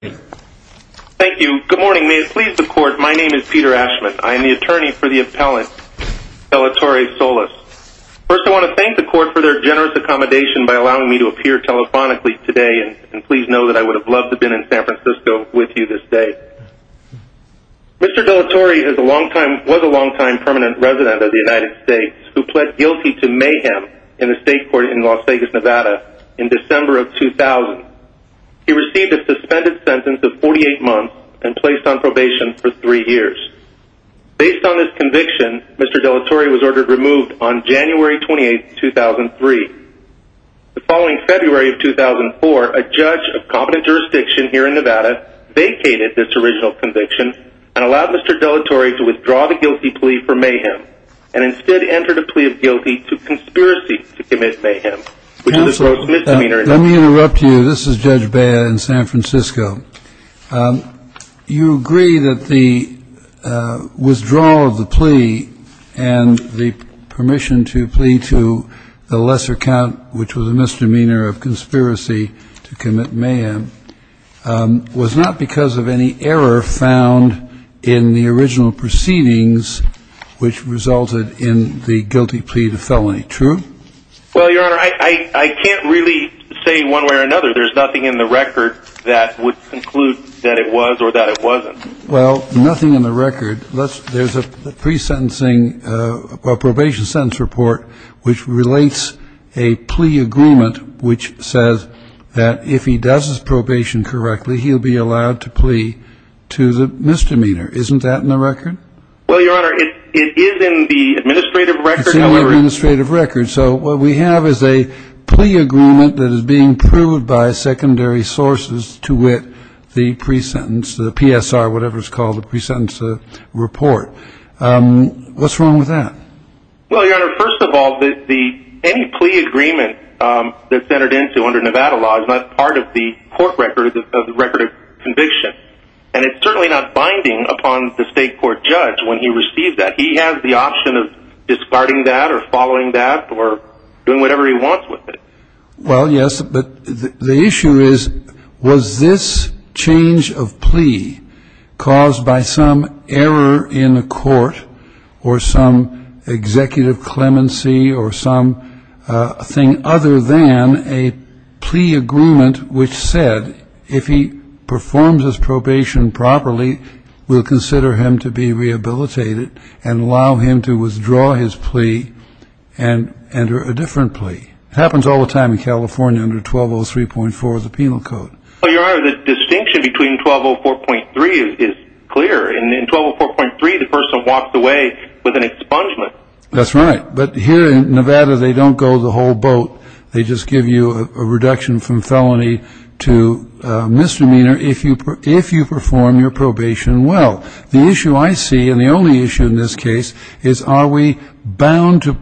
Thank you. Good morning. May it please the Court, my name is Peter Ashman. I am the attorney for the appellant, Delatorre-Solis. First, I want to thank the Court for their generous accommodation by allowing me to appear telephonically today, and please know that I would have loved to have been in San Francisco with you this day. Mr. Delatorre was a long-time permanent resident of the United States who pled guilty to mayhem in a state court in Las Vegas, Nevada, in December of 2000. He received a suspended sentence of 48 months and placed on probation for three years. Based on this conviction, Mr. Delatorre was ordered removed on January 28, 2003. The following February of 2004, a judge of competent jurisdiction here in Nevada vacated this original conviction and allowed Mr. Delatorre to withdraw the guilty plea for mayhem and instead entered a plea of guilty to conspiracy to commit mayhem. Counsel, let me interrupt you. This is Judge Bea in San Francisco. You agree that the withdrawal of the plea and the permission to plea to the lesser count, which was a misdemeanor of conspiracy to commit mayhem, was not because of any error found in the original proceedings which resulted in the guilty plea to felony, true? Well, Your Honor, I can't really say one way or another. There's nothing in the record that would conclude that it was or that it wasn't. Well, nothing in the record. There's a pre-sentencing or probation sentence report which relates a plea agreement which says that if he does his probation correctly, he'll be allowed to plea to the misdemeanor. Isn't that in the record? Well, Your Honor, it is in the administrative record. It's in the administrative record. So what we have is a plea agreement that is being proved by secondary sources to wit the pre-sentence, the PSR, whatever it's called, the pre-sentence report. What's wrong with that? Well, Your Honor, first of all, any plea agreement that's entered into under Nevada law is not part of the court record of the record of conviction. And it's certainly not binding upon the state court judge. When he receives that, he has the option of discarding that or following that or doing whatever he wants with it. Well, yes, but the issue is was this change of plea caused by some error in the court or some executive clemency or something other than a plea agreement which said that if he performs his probation properly, we'll consider him to be rehabilitated and allow him to withdraw his plea and enter a different plea. It happens all the time in California under 1203.4 of the penal code. Well, Your Honor, the distinction between 1204.3 is clear. In 1204.3, the person walks away with an expungement. That's right. But here in Nevada, they don't go the whole boat. They just give you a reduction from felony to misdemeanor if you perform your probation well. The issue I see, and the only issue in this case, is are we bound to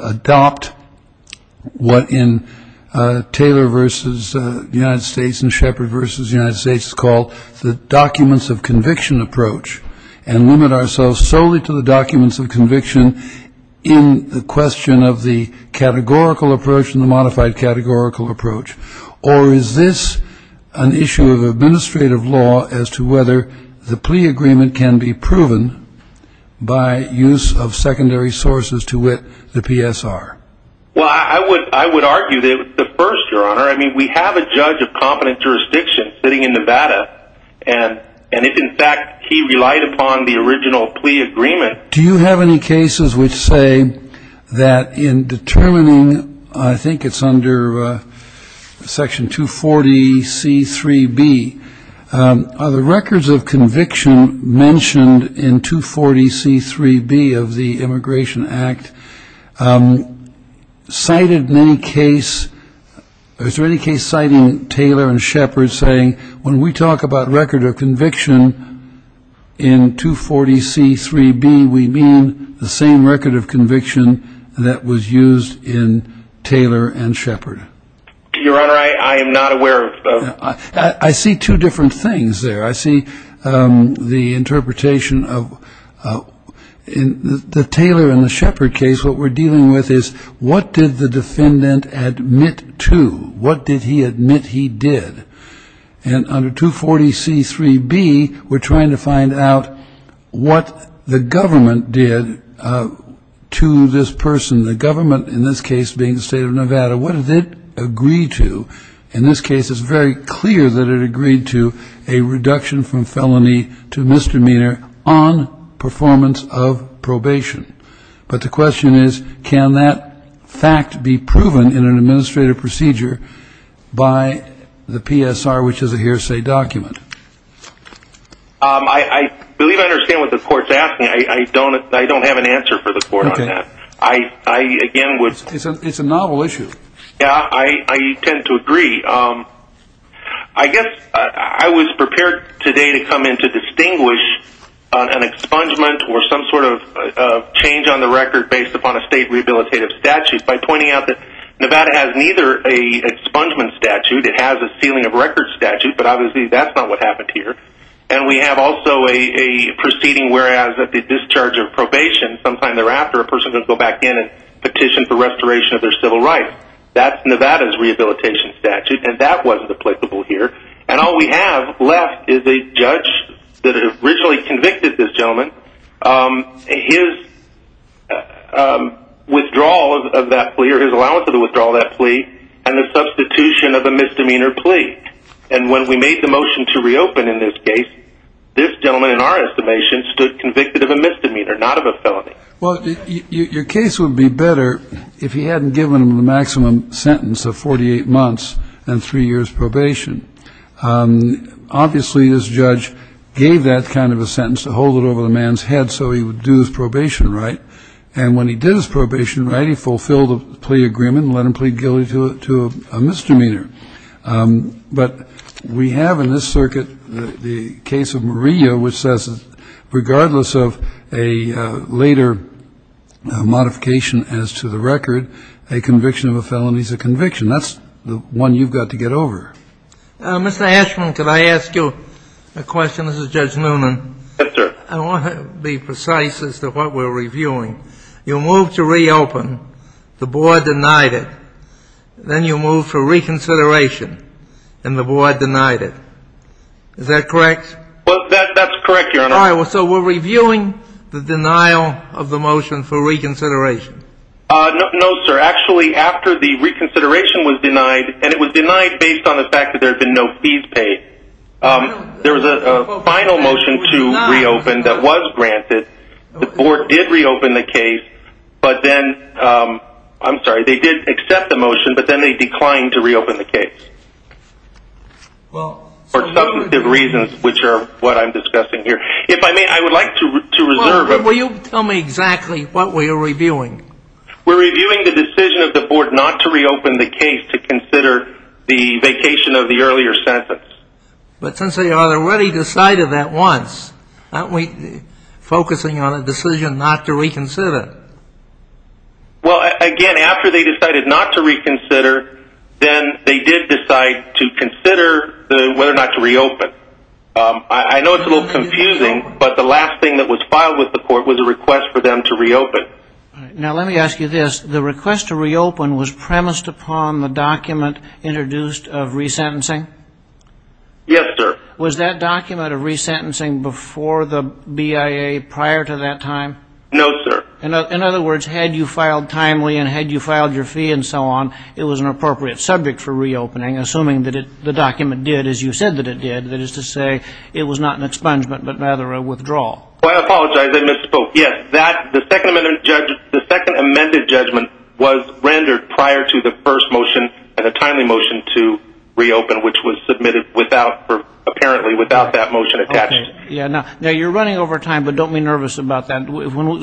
adopt what in Taylor v. United States and Shepard v. United States is called the documents of conviction approach and limit ourselves solely to the documents of conviction in the question of the categorical approach and the modified categorical approach, or is this an issue of administrative law as to whether the plea agreement can be proven by use of secondary sources to wit the PSR? Well, I would argue that the first, Your Honor, I mean, we have a judge of competent jurisdiction sitting in Nevada, and if in fact he relied upon the original plea agreement. Do you have any cases which say that in determining, I think it's under Section 240C3B, are the records of conviction mentioned in 240C3B of the Immigration Act cited in any case, or is there any case citing Taylor and Shepard saying when we talk about record of conviction in 240C3B, we mean the same record of conviction that was used in Taylor and Shepard? Your Honor, I am not aware of those. I see two different things there. I see the interpretation of the Taylor and the Shepard case. What we're dealing with is what did the defendant admit to? What did he admit he did? And under 240C3B, we're trying to find out what the government did to this person, the government in this case being the state of Nevada. What did it agree to? In this case, it's very clear that it agreed to a reduction from felony to misdemeanor on performance of probation. But the question is, can that fact be proven in an administrative procedure by the PSR, which is a hearsay document? I believe I understand what the Court's asking. I don't have an answer for the Court on that. Okay. I, again, would – It's a novel issue. Yeah, I tend to agree. I guess I was prepared today to come in to distinguish an expungement or some sort of change on the record based upon a state rehabilitative statute by pointing out that Nevada has neither an expungement statute. It has a sealing of records statute, but obviously that's not what happened here. And we have also a proceeding whereas at the discharge of probation, sometime thereafter a person can go back in and petition for restoration of their civil rights. That's Nevada's rehabilitation statute, and that wasn't applicable here. And all we have left is a judge that originally convicted this gentleman, his withdrawal of that plea or his allowance of the withdrawal of that plea, and the substitution of a misdemeanor plea. And when we made the motion to reopen in this case, this gentleman, in our estimation, stood convicted of a misdemeanor, not of a felony. Well, your case would be better if he hadn't given him the maximum sentence of 48 months and three years probation. Obviously, this judge gave that kind of a sentence to hold it over the man's head so he would do his probation right. And when he did his probation right, he fulfilled the plea agreement and let him plead guilty to a misdemeanor. But we have in this circuit the case of Maria, which says regardless of a later modification as to the record, a conviction of a felony is a conviction. That's the one you've got to get over. Mr. Ashman, could I ask you a question? This is Judge Noonan. I want to be precise as to what we're reviewing. You moved to reopen. The board denied it. Then you moved for reconsideration, and the board denied it. Is that correct? Well, that's correct, Your Honor. All right. So we're reviewing the denial of the motion for reconsideration. No, sir. Actually, after the reconsideration was denied, and it was denied based on the fact that there had been no fees paid, there was a final motion to reopen that was granted. The board did reopen the case. I'm sorry. They did accept the motion, but then they declined to reopen the case for substantive reasons, which are what I'm discussing here. If I may, I would like to reserve a moment. Will you tell me exactly what we are reviewing? We're reviewing the decision of the board not to reopen the case to consider the vacation of the earlier sentence. But since they already decided that once, aren't we focusing on a decision not to reconsider? Well, again, after they decided not to reconsider, then they did decide to consider whether or not to reopen. I know it's a little confusing, but the last thing that was filed with the court was a request for them to reopen. Now, let me ask you this. The request to reopen was premised upon the document introduced of resentencing? Yes, sir. Was that document of resentencing before the BIA prior to that time? No, sir. In other words, had you filed timely and had you filed your fee and so on, it was an appropriate subject for reopening, assuming that the document did as you said that it did, that is to say it was not an expungement but rather a withdrawal. I apologize. I misspoke. Yes, the second amended judgment was rendered prior to the first motion and a timely motion to reopen, which was submitted apparently without that motion attached. Now, you're running over time, but don't be nervous about that.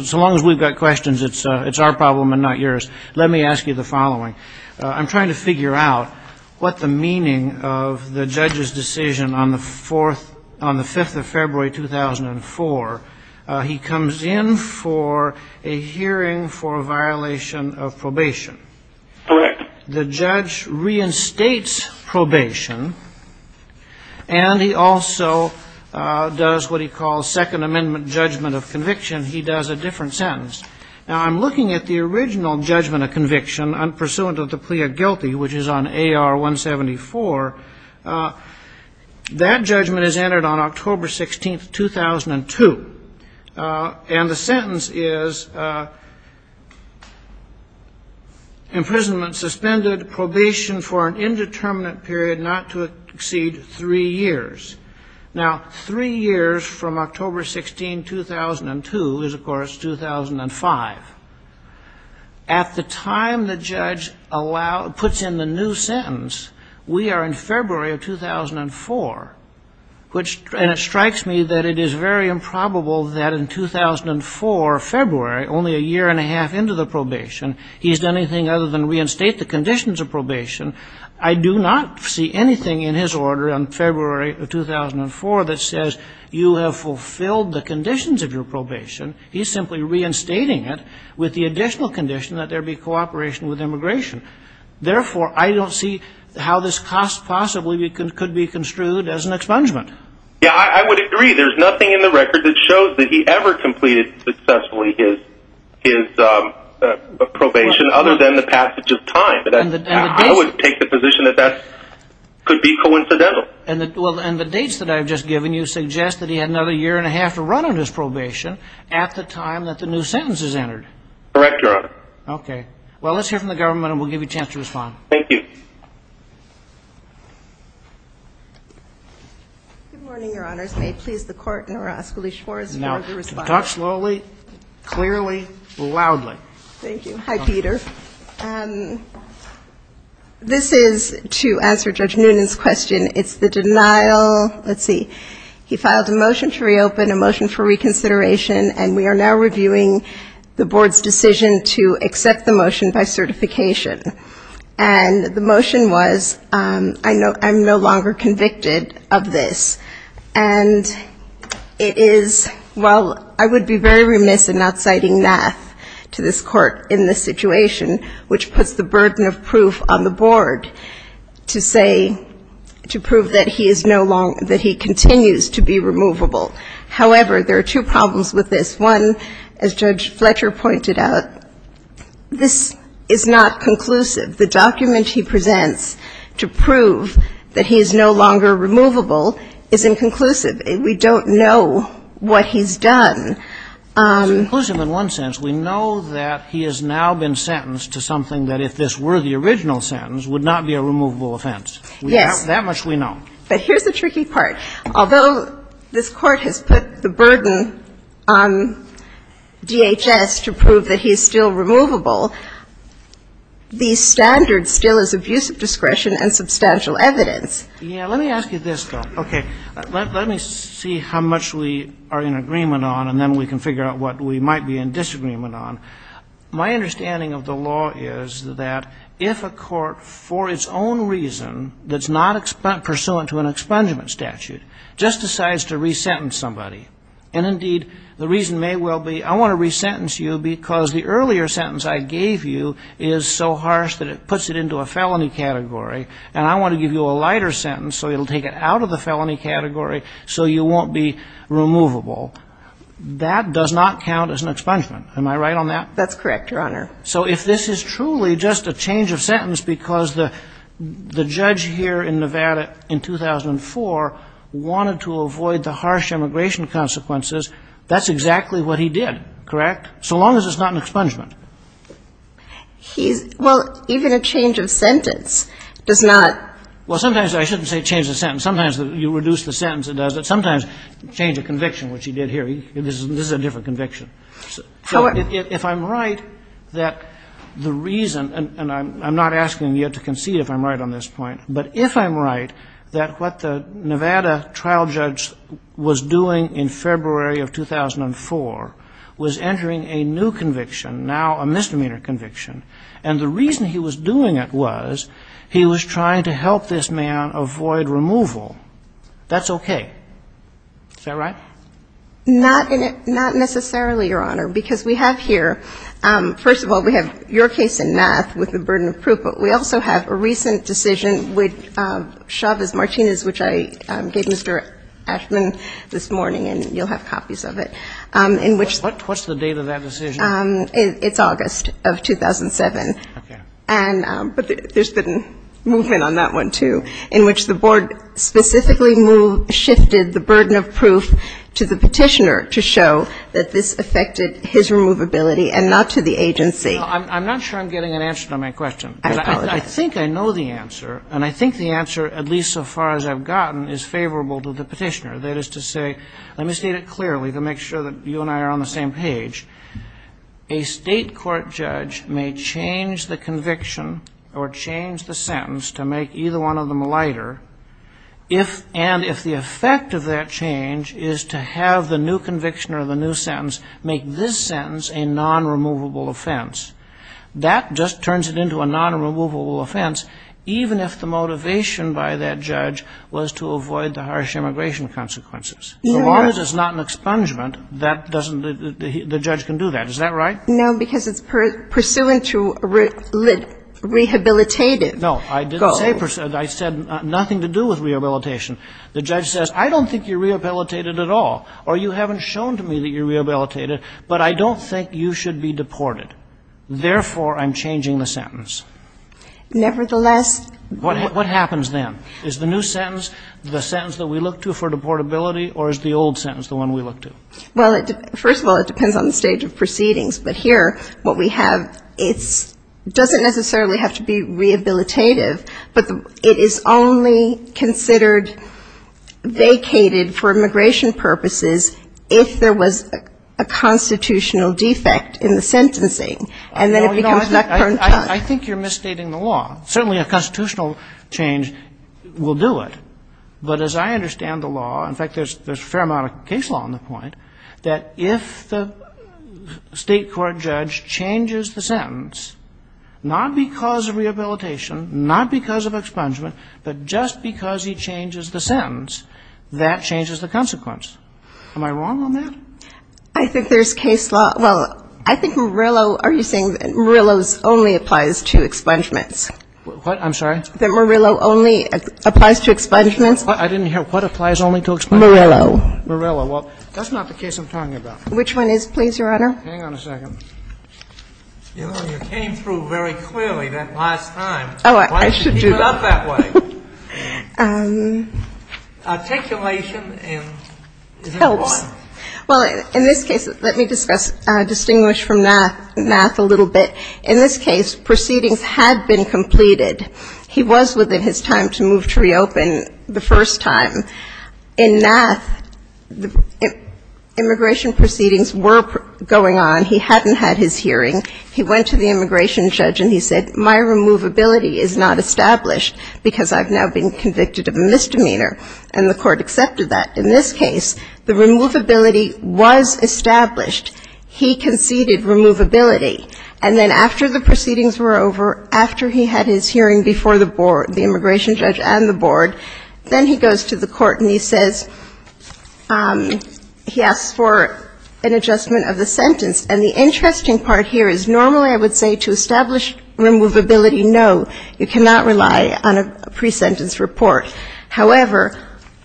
So long as we've got questions, it's our problem and not yours. Let me ask you the following. I'm trying to figure out what the meaning of the judge's decision on the 5th of February, 2004. He comes in for a hearing for a violation of probation. Correct. The judge reinstates probation, and he also does what he calls second amendment judgment of conviction. He does a different sentence. Now, I'm looking at the original judgment of conviction, unpursuant of the plea of guilty, which is on AR 174. That judgment is entered on October 16, 2002. And the sentence is imprisonment suspended, probation for an indeterminate period not to exceed three years. Now, three years from October 16, 2002 is, of course, 2005. At the time the judge puts in the new sentence, we are in February of 2004. And it strikes me that it is very improbable that in 2004, February, only a year and a half into the probation, he's done anything other than reinstate the conditions of probation. I do not see anything in his order on February of 2004 that says you have fulfilled the conditions of your probation. He's simply reinstating it with the additional condition that there be cooperation with immigration. Therefore, I don't see how this cost possibly could be construed as an expungement. Yeah, I would agree. There's nothing in the record that shows that he ever completed successfully his probation other than the passage of time. I would take the position that that could be coincidental. And the dates that I've just given you suggest that he had another year and a half to run on his probation at the time that the new sentence is entered. Correct, Your Honor. Okay. Well, let's hear from the government, and we'll give you a chance to respond. Thank you. Good morning, Your Honors. May it please the Court, and I will ask Alicia Morris to respond. Now, talk slowly, clearly, loudly. Thank you. Hi, Peter. This is to answer Judge Noonan's question. It's the denial. Let's see. He filed a motion to reopen, a motion for reconsideration, and we are now reviewing the Board's decision to accept the motion by certification. And the motion was, I'm no longer convicted of this. And it is, while I would be very remiss in not citing NAF to this Court in this situation, which puts the burden of proof on the Board to say, to prove that he is no longer, that he continues to be removable. However, there are two problems with this. One, as Judge Fletcher pointed out, this is not conclusive. The document he presents to prove that he is no longer removable is inconclusive. We don't know what he's done. It's inconclusive in one sense. We know that he has now been sentenced to something that, if this were the original sentence, would not be a removable offense. Yes. That much we know. But here's the tricky part. Although this Court has put the burden on DHS to prove that he's still removable, the standard still is abuse of discretion and substantial evidence. Yeah. Let me ask you this, though. Okay. Let me see how much we are in agreement on, and then we can figure out what we might be in disagreement on. My understanding of the law is that if a court, for its own reason, that's not pursuant to an expungement statute, just decides to resentence somebody, and indeed, the reason may well be, I want to resentence you because the earlier sentence I gave you is so harsh that it puts it into a felony category, and I want to give you a lighter sentence so it'll take it out of the felony category so you won't be removable, that does not count as an expungement. Am I right on that? That's correct, Your Honor. So if this is truly just a change of sentence because the judge here in Nevada in 2004 wanted to avoid the harsh immigration consequences, that's exactly what he did, correct? So long as it's not an expungement. He's – well, even a change of sentence does not – Well, sometimes I shouldn't say change of sentence. Sometimes you reduce the sentence, it does it. Sometimes change of conviction, which he did here. This is a different conviction. So if I'm right that the reason – and I'm not asking you to concede if I'm right on this point, but if I'm right that what the Nevada trial judge was doing in February of 2004 was entering a new conviction, now a misdemeanor conviction, and the reason he was doing it was he was trying to help this man avoid removal, that's okay. Is that right? Not in – not necessarily, Your Honor, because we have here – first of all, we have your case in math with the burden of proof, but we also have a recent decision with Chavez-Martinez, which I gave Mr. Ashman this morning, and you'll have copies of it, in which – What's the date of that decision? It's August of 2007. Okay. And – but there's been movement on that one, too, in which the board specifically shifted the burden of proof to the petitioner to show that this affected his removability and not to the agency. No, I'm not sure I'm getting an answer to my question. I apologize. I think I know the answer, and I think the answer, at least so far as I've gotten, is favorable to the petitioner. That is to say – let me state it clearly to make sure that you and I are on the same page. A state court judge may change the conviction or change the sentence to make either one of them lighter, and if the effect of that change is to have the new conviction or the new sentence make this sentence a non-removable offense, that just turns it into a non-removable offense, even if the motivation by that judge was to avoid the harsh immigration consequences. As long as it's not an expungement, that doesn't – the judge can do that. Is that right? No, because it's pursuant to rehabilitative goals. No, I didn't say – I said nothing to do with rehabilitation. The judge says, I don't think you're rehabilitated at all, or you haven't shown to me that you're rehabilitated, but I don't think you should be deported. Therefore, I'm changing the sentence. Nevertheless – What happens then? Is the new sentence the sentence that we look to for deportability, or is the old sentence the one we look to? Well, first of all, it depends on the stage of proceedings. But here what we have, it doesn't necessarily have to be rehabilitative, but it is only considered vacated for immigration purposes if there was a constitutional defect in the sentencing, and then it becomes not current time. I think you're misstating the law. Certainly a constitutional change will do it. But as I understand the law – in fact, there's a fair amount of case law on the point – that if the state court judge changes the sentence, not because of rehabilitation, not because of expungement, but just because he changes the sentence, that changes the consequence. Am I wrong on that? I think there's case law – well, I think Murillo – What? I'm sorry? That Murillo only applies to expungements. I didn't hear. What applies only to expungements? Murillo. Murillo. Well, that's not the case I'm talking about. Which one is, please, Your Honor? Hang on a second. You know, you came through very clearly that last time. Oh, I should do that. Why don't you keep it up that way? Articulation and – It helps. Well, in this case, let me discuss – distinguish from math a little bit. In this case, proceedings had been completed. He was within his time to move to reopen the first time. In math, immigration proceedings were going on. He hadn't had his hearing. He went to the immigration judge and he said, my removability is not established because I've now been convicted of a misdemeanor. And the court accepted that. In this case, the removability was established. He conceded removability. And then after the proceedings were over, after he had his hearing before the immigration judge and the board, then he goes to the court and he says – he asks for an adjustment of the sentence. And the interesting part here is normally I would say to establish removability, no, you cannot rely on a pre-sentence report. However,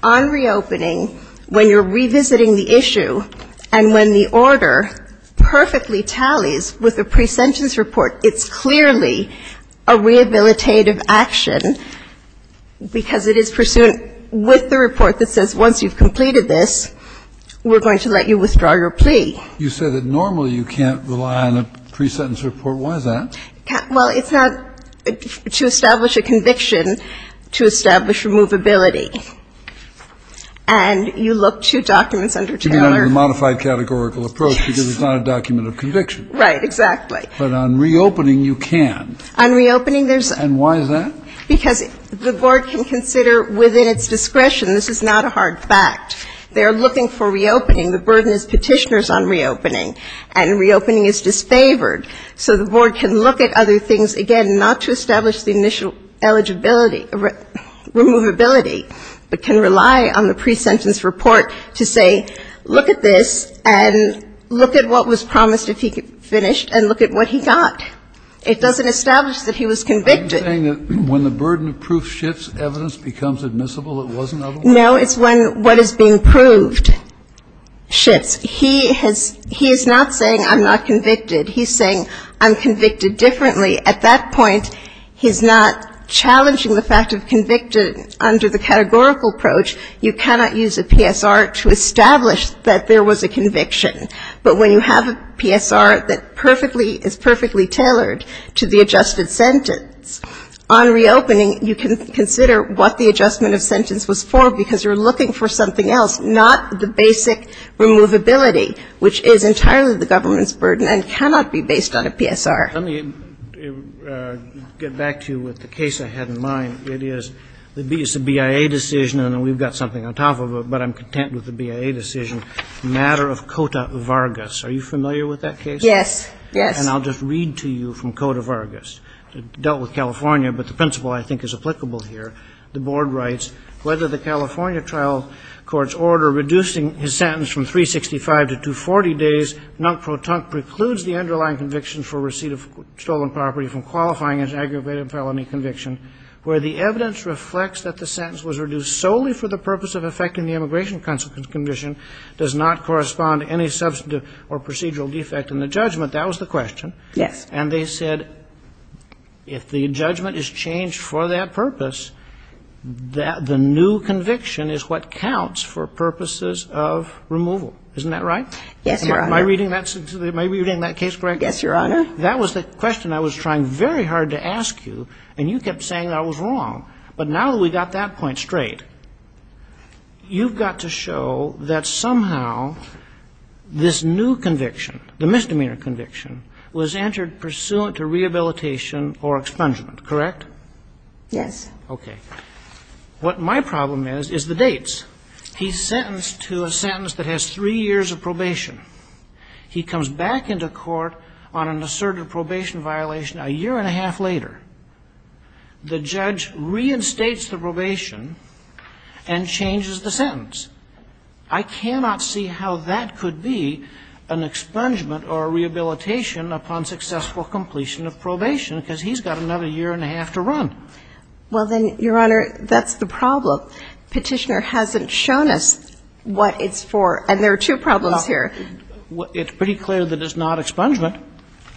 on reopening, when you're revisiting the issue and when the order perfectly tallies with a pre-sentence report, it's clearly a rehabilitative action because it is pursuant with the report that says once you've completed this, we're going to let you withdraw your plea. You said that normally you can't rely on a pre-sentence report. Why is that? Well, it's not – to establish a conviction, to establish removability. And you look to documents under Taylor. You mean a modified categorical approach because it's not a document of conviction. Right, exactly. But on reopening, you can. On reopening, there's – And why is that? Because the board can consider within its discretion. This is not a hard fact. They're looking for reopening. The burden is petitioners on reopening. And reopening is disfavored. So the board can look at other things. Again, not to establish the initial eligibility, removability, but can rely on the pre-sentence report to say look at this and look at what was promised if he finished and look at what he got. It doesn't establish that he was convicted. Are you saying that when the burden of proof shifts, evidence becomes admissible? It wasn't otherwise? No, it's when what is being proved shifts. He has – he is not saying I'm not convicted. He's saying I'm convicted differently. At that point, he's not challenging the fact of convicted under the categorical approach. You cannot use a PSR to establish that there was a conviction. But when you have a PSR that perfectly – is perfectly tailored to the adjusted sentence, on reopening you can consider what the adjustment of sentence was for because you're looking for something else, not the basic removability, which is entirely the government's burden and cannot be based on a PSR. Let me get back to you with the case I had in mind. It is the BIA decision, and we've got something on top of it, but I'm content with the BIA decision, matter of Cota Vargas. Are you familiar with that case? Yes, yes. And I'll just read to you from Cota Vargas. It dealt with California, but the principle I think is applicable here. The board writes, whether the California trial court's order reducing his sentence from 365 to 240 days, precludes the underlying conviction for receipt of stolen property from qualifying as an aggravated felony conviction, where the evidence reflects that the sentence was reduced solely for the purpose of effecting the immigration consequence condition, does not correspond to any substantive or procedural defect in the judgment. That was the question. Yes. And they said if the judgment is changed for that purpose, the new conviction is what counts for purposes of removal. Isn't that right? Yes, Your Honor. Am I reading that case correctly? Yes, Your Honor. That was the question I was trying very hard to ask you, and you kept saying I was wrong. But now that we've got that point straight, you've got to show that somehow this new conviction, the misdemeanor conviction, was entered pursuant to rehabilitation or expungement, correct? Yes. Okay. What my problem is is the dates. He's sentenced to a sentence that has three years of probation. He comes back into court on an asserted probation violation a year and a half later. The judge reinstates the probation and changes the sentence. I cannot see how that could be an expungement or a rehabilitation upon successful completion of probation, because he's got another year and a half to run. Well, then, Your Honor, that's the problem. Petitioner hasn't shown us what it's for, and there are two problems here. Well, it's pretty clear that it's not expungement.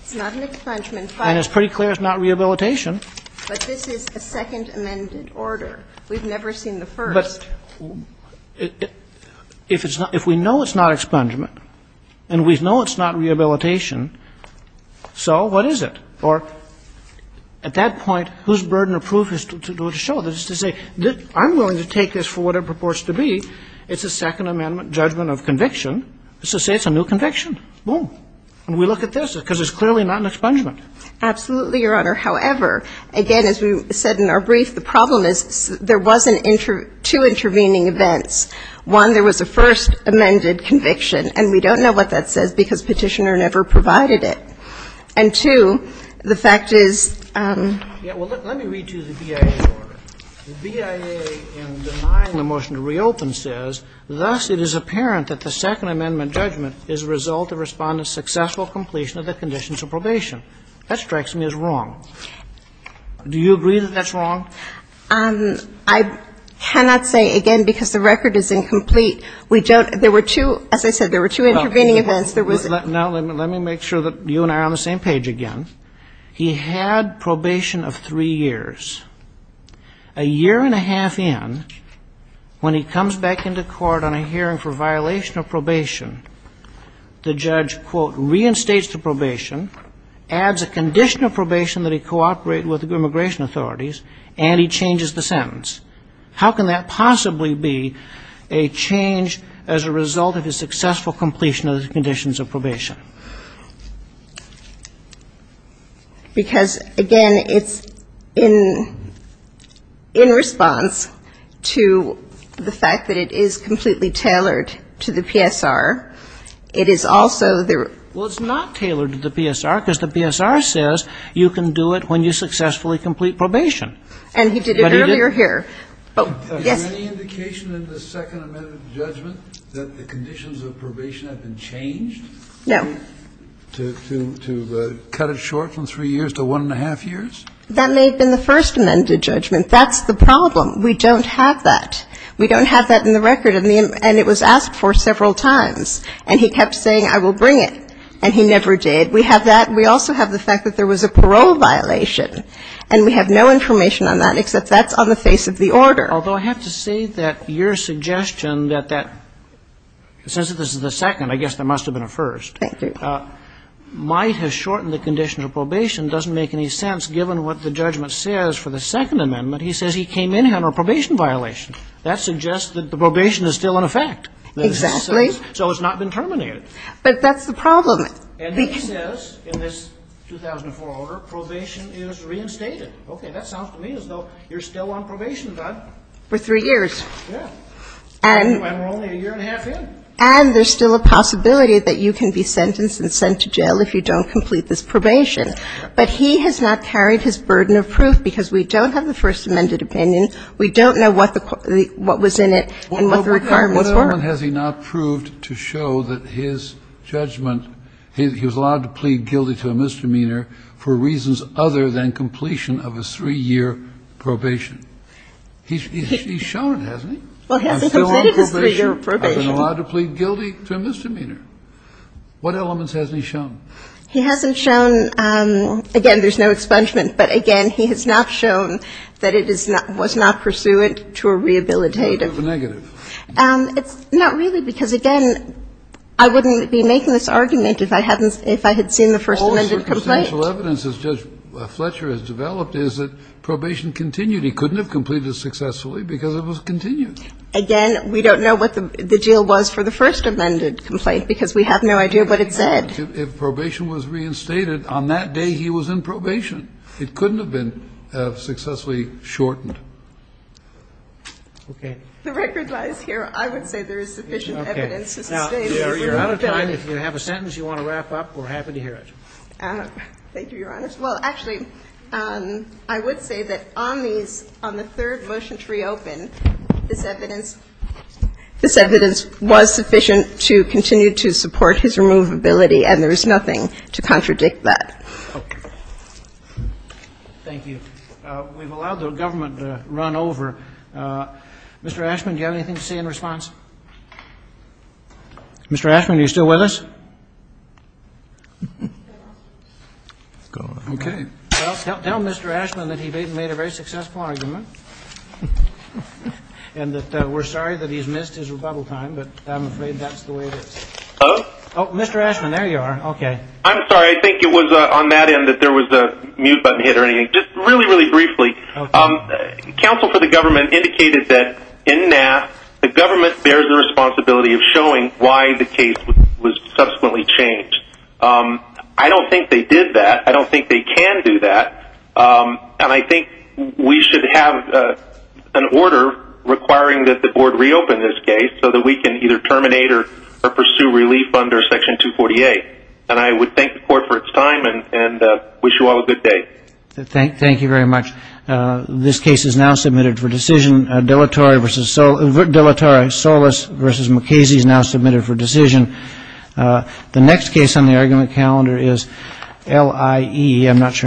It's not an expungement. And it's pretty clear it's not rehabilitation. But this is a second amended order. We've never seen the first. But if it's not – if we know it's not expungement and we know it's not rehabilitation, so what is it? Or at that point, whose burden of proof is to show this, to say, I'm willing to take this for what it purports to be. It's a Second Amendment judgment of conviction. So say it's a new conviction. Boom. And we look at this, because it's clearly not an expungement. Absolutely, Your Honor. However, again, as we said in our brief, the problem is there was two intervening events. One, there was a first amended conviction, and we don't know what that says because Petitioner never provided it. And two, the fact is – Yeah. Well, let me read to you the BIA's order. The BIA, in denying the motion to reopen, says, Thus, it is apparent that the Second Amendment judgment is a result of Respondent's successful completion of the conditions of probation. That strikes me as wrong. Do you agree that that's wrong? I cannot say, again, because the record is incomplete. We don't – there were two – as I said, there were two intervening events. Let me make sure that you and I are on the same page again. He had probation of three years. A year and a half in, when he comes back into court on a hearing for violation of probation, the judge, quote, reinstates the probation, adds a condition of probation that he cooperate with immigration authorities, and he changes the sentence. How can that possibly be a change as a result of his successful completion of the conditions of probation? Because, again, it's in response to the fact that it is completely tailored to the PSR. It is also the – Well, it's not tailored to the PSR because the PSR says you can do it when you successfully complete probation. And he did it earlier here. Yes. Is there any indication in the Second Amendment judgment that the conditions of probation have changed? No. To cut it short from three years to one and a half years? That may have been the First Amendment judgment. That's the problem. We don't have that. We don't have that in the record. And it was asked for several times. And he kept saying, I will bring it. And he never did. We have that. We also have the fact that there was a parole violation. And we have no information on that, except that's on the face of the order. Although, I have to say that your suggestion that that – since this is the second, I guess there must have been a first. Thank you. Might has shortened the condition of probation doesn't make any sense, given what the judgment says for the Second Amendment. He says he came in on a probation violation. That suggests that the probation is still in effect. Exactly. So it's not been terminated. But that's the problem. And he says in this 2004 order, probation is reinstated. Okay. That sounds to me as though you're still on probation, Doug. For three years. Yeah. And we're only a year and a half in. And there's still a possibility that you can be sentenced and sent to jail if you don't complete this probation. But he has not carried his burden of proof, because we don't have the First Amendment opinion. We don't know what the – what was in it and what the requirements were. Well, what other one has he not proved to show that his judgment – he was allowed to plead guilty to a misdemeanor for reasons other than completion of a three-year probation? He's shown it, hasn't he? Well, he hasn't completed his three-year probation. I've been allowed to plead guilty to a misdemeanor. What elements hasn't he shown? He hasn't shown – again, there's no expungement. But, again, he has not shown that it is – was not pursuant to a rehabilitative – Negative. It's not really, because, again, I wouldn't be making this argument if I hadn't – if I had seen the First Amendment complaint. All the circumstantial evidence that Judge Fletcher has developed is that probation continued. He couldn't have completed it successfully because it was continued. Again, we don't know what the deal was for the First Amendment complaint, because we have no idea what it said. If probation was reinstated, on that day he was in probation. It couldn't have been successfully shortened. Okay. The record lies here. I would say there is sufficient evidence to state that it would have been. Now, you're out of time. If you have a sentence you want to wrap up, we're happy to hear it. Thank you, Your Honor. Well, actually, I would say that on these – on the third motion to reopen, this evidence – this evidence was sufficient to continue to support his removability, and there is nothing to contradict that. Okay. Thank you. We've allowed the government to run over. Mr. Ashman, do you have anything to say in response? Mr. Ashman, are you still with us? Mr. Ashman? Okay. Tell Mr. Ashman that he made a very successful argument and that we're sorry that he's missed his rebuttal time, but I'm afraid that's the way it is. Mr. Ashman, there you are. Okay. I'm sorry. I think it was on that end that there was a mute button hit or anything. Just really, really briefly, counsel for the government indicated that in NAF, the government bears the responsibility of showing why the case was subsequently changed. I don't think they did that. I don't think they can do that. And I think we should have an order requiring that the board reopen this case so that we can either terminate or pursue relief under Section 248. And I would thank the court for its time and wish you all a good day. Thank you very much. This case is now submitted for decision. Deletori Solis v. McKasey is now submitted for decision. The next case on the argument calendar is LIE.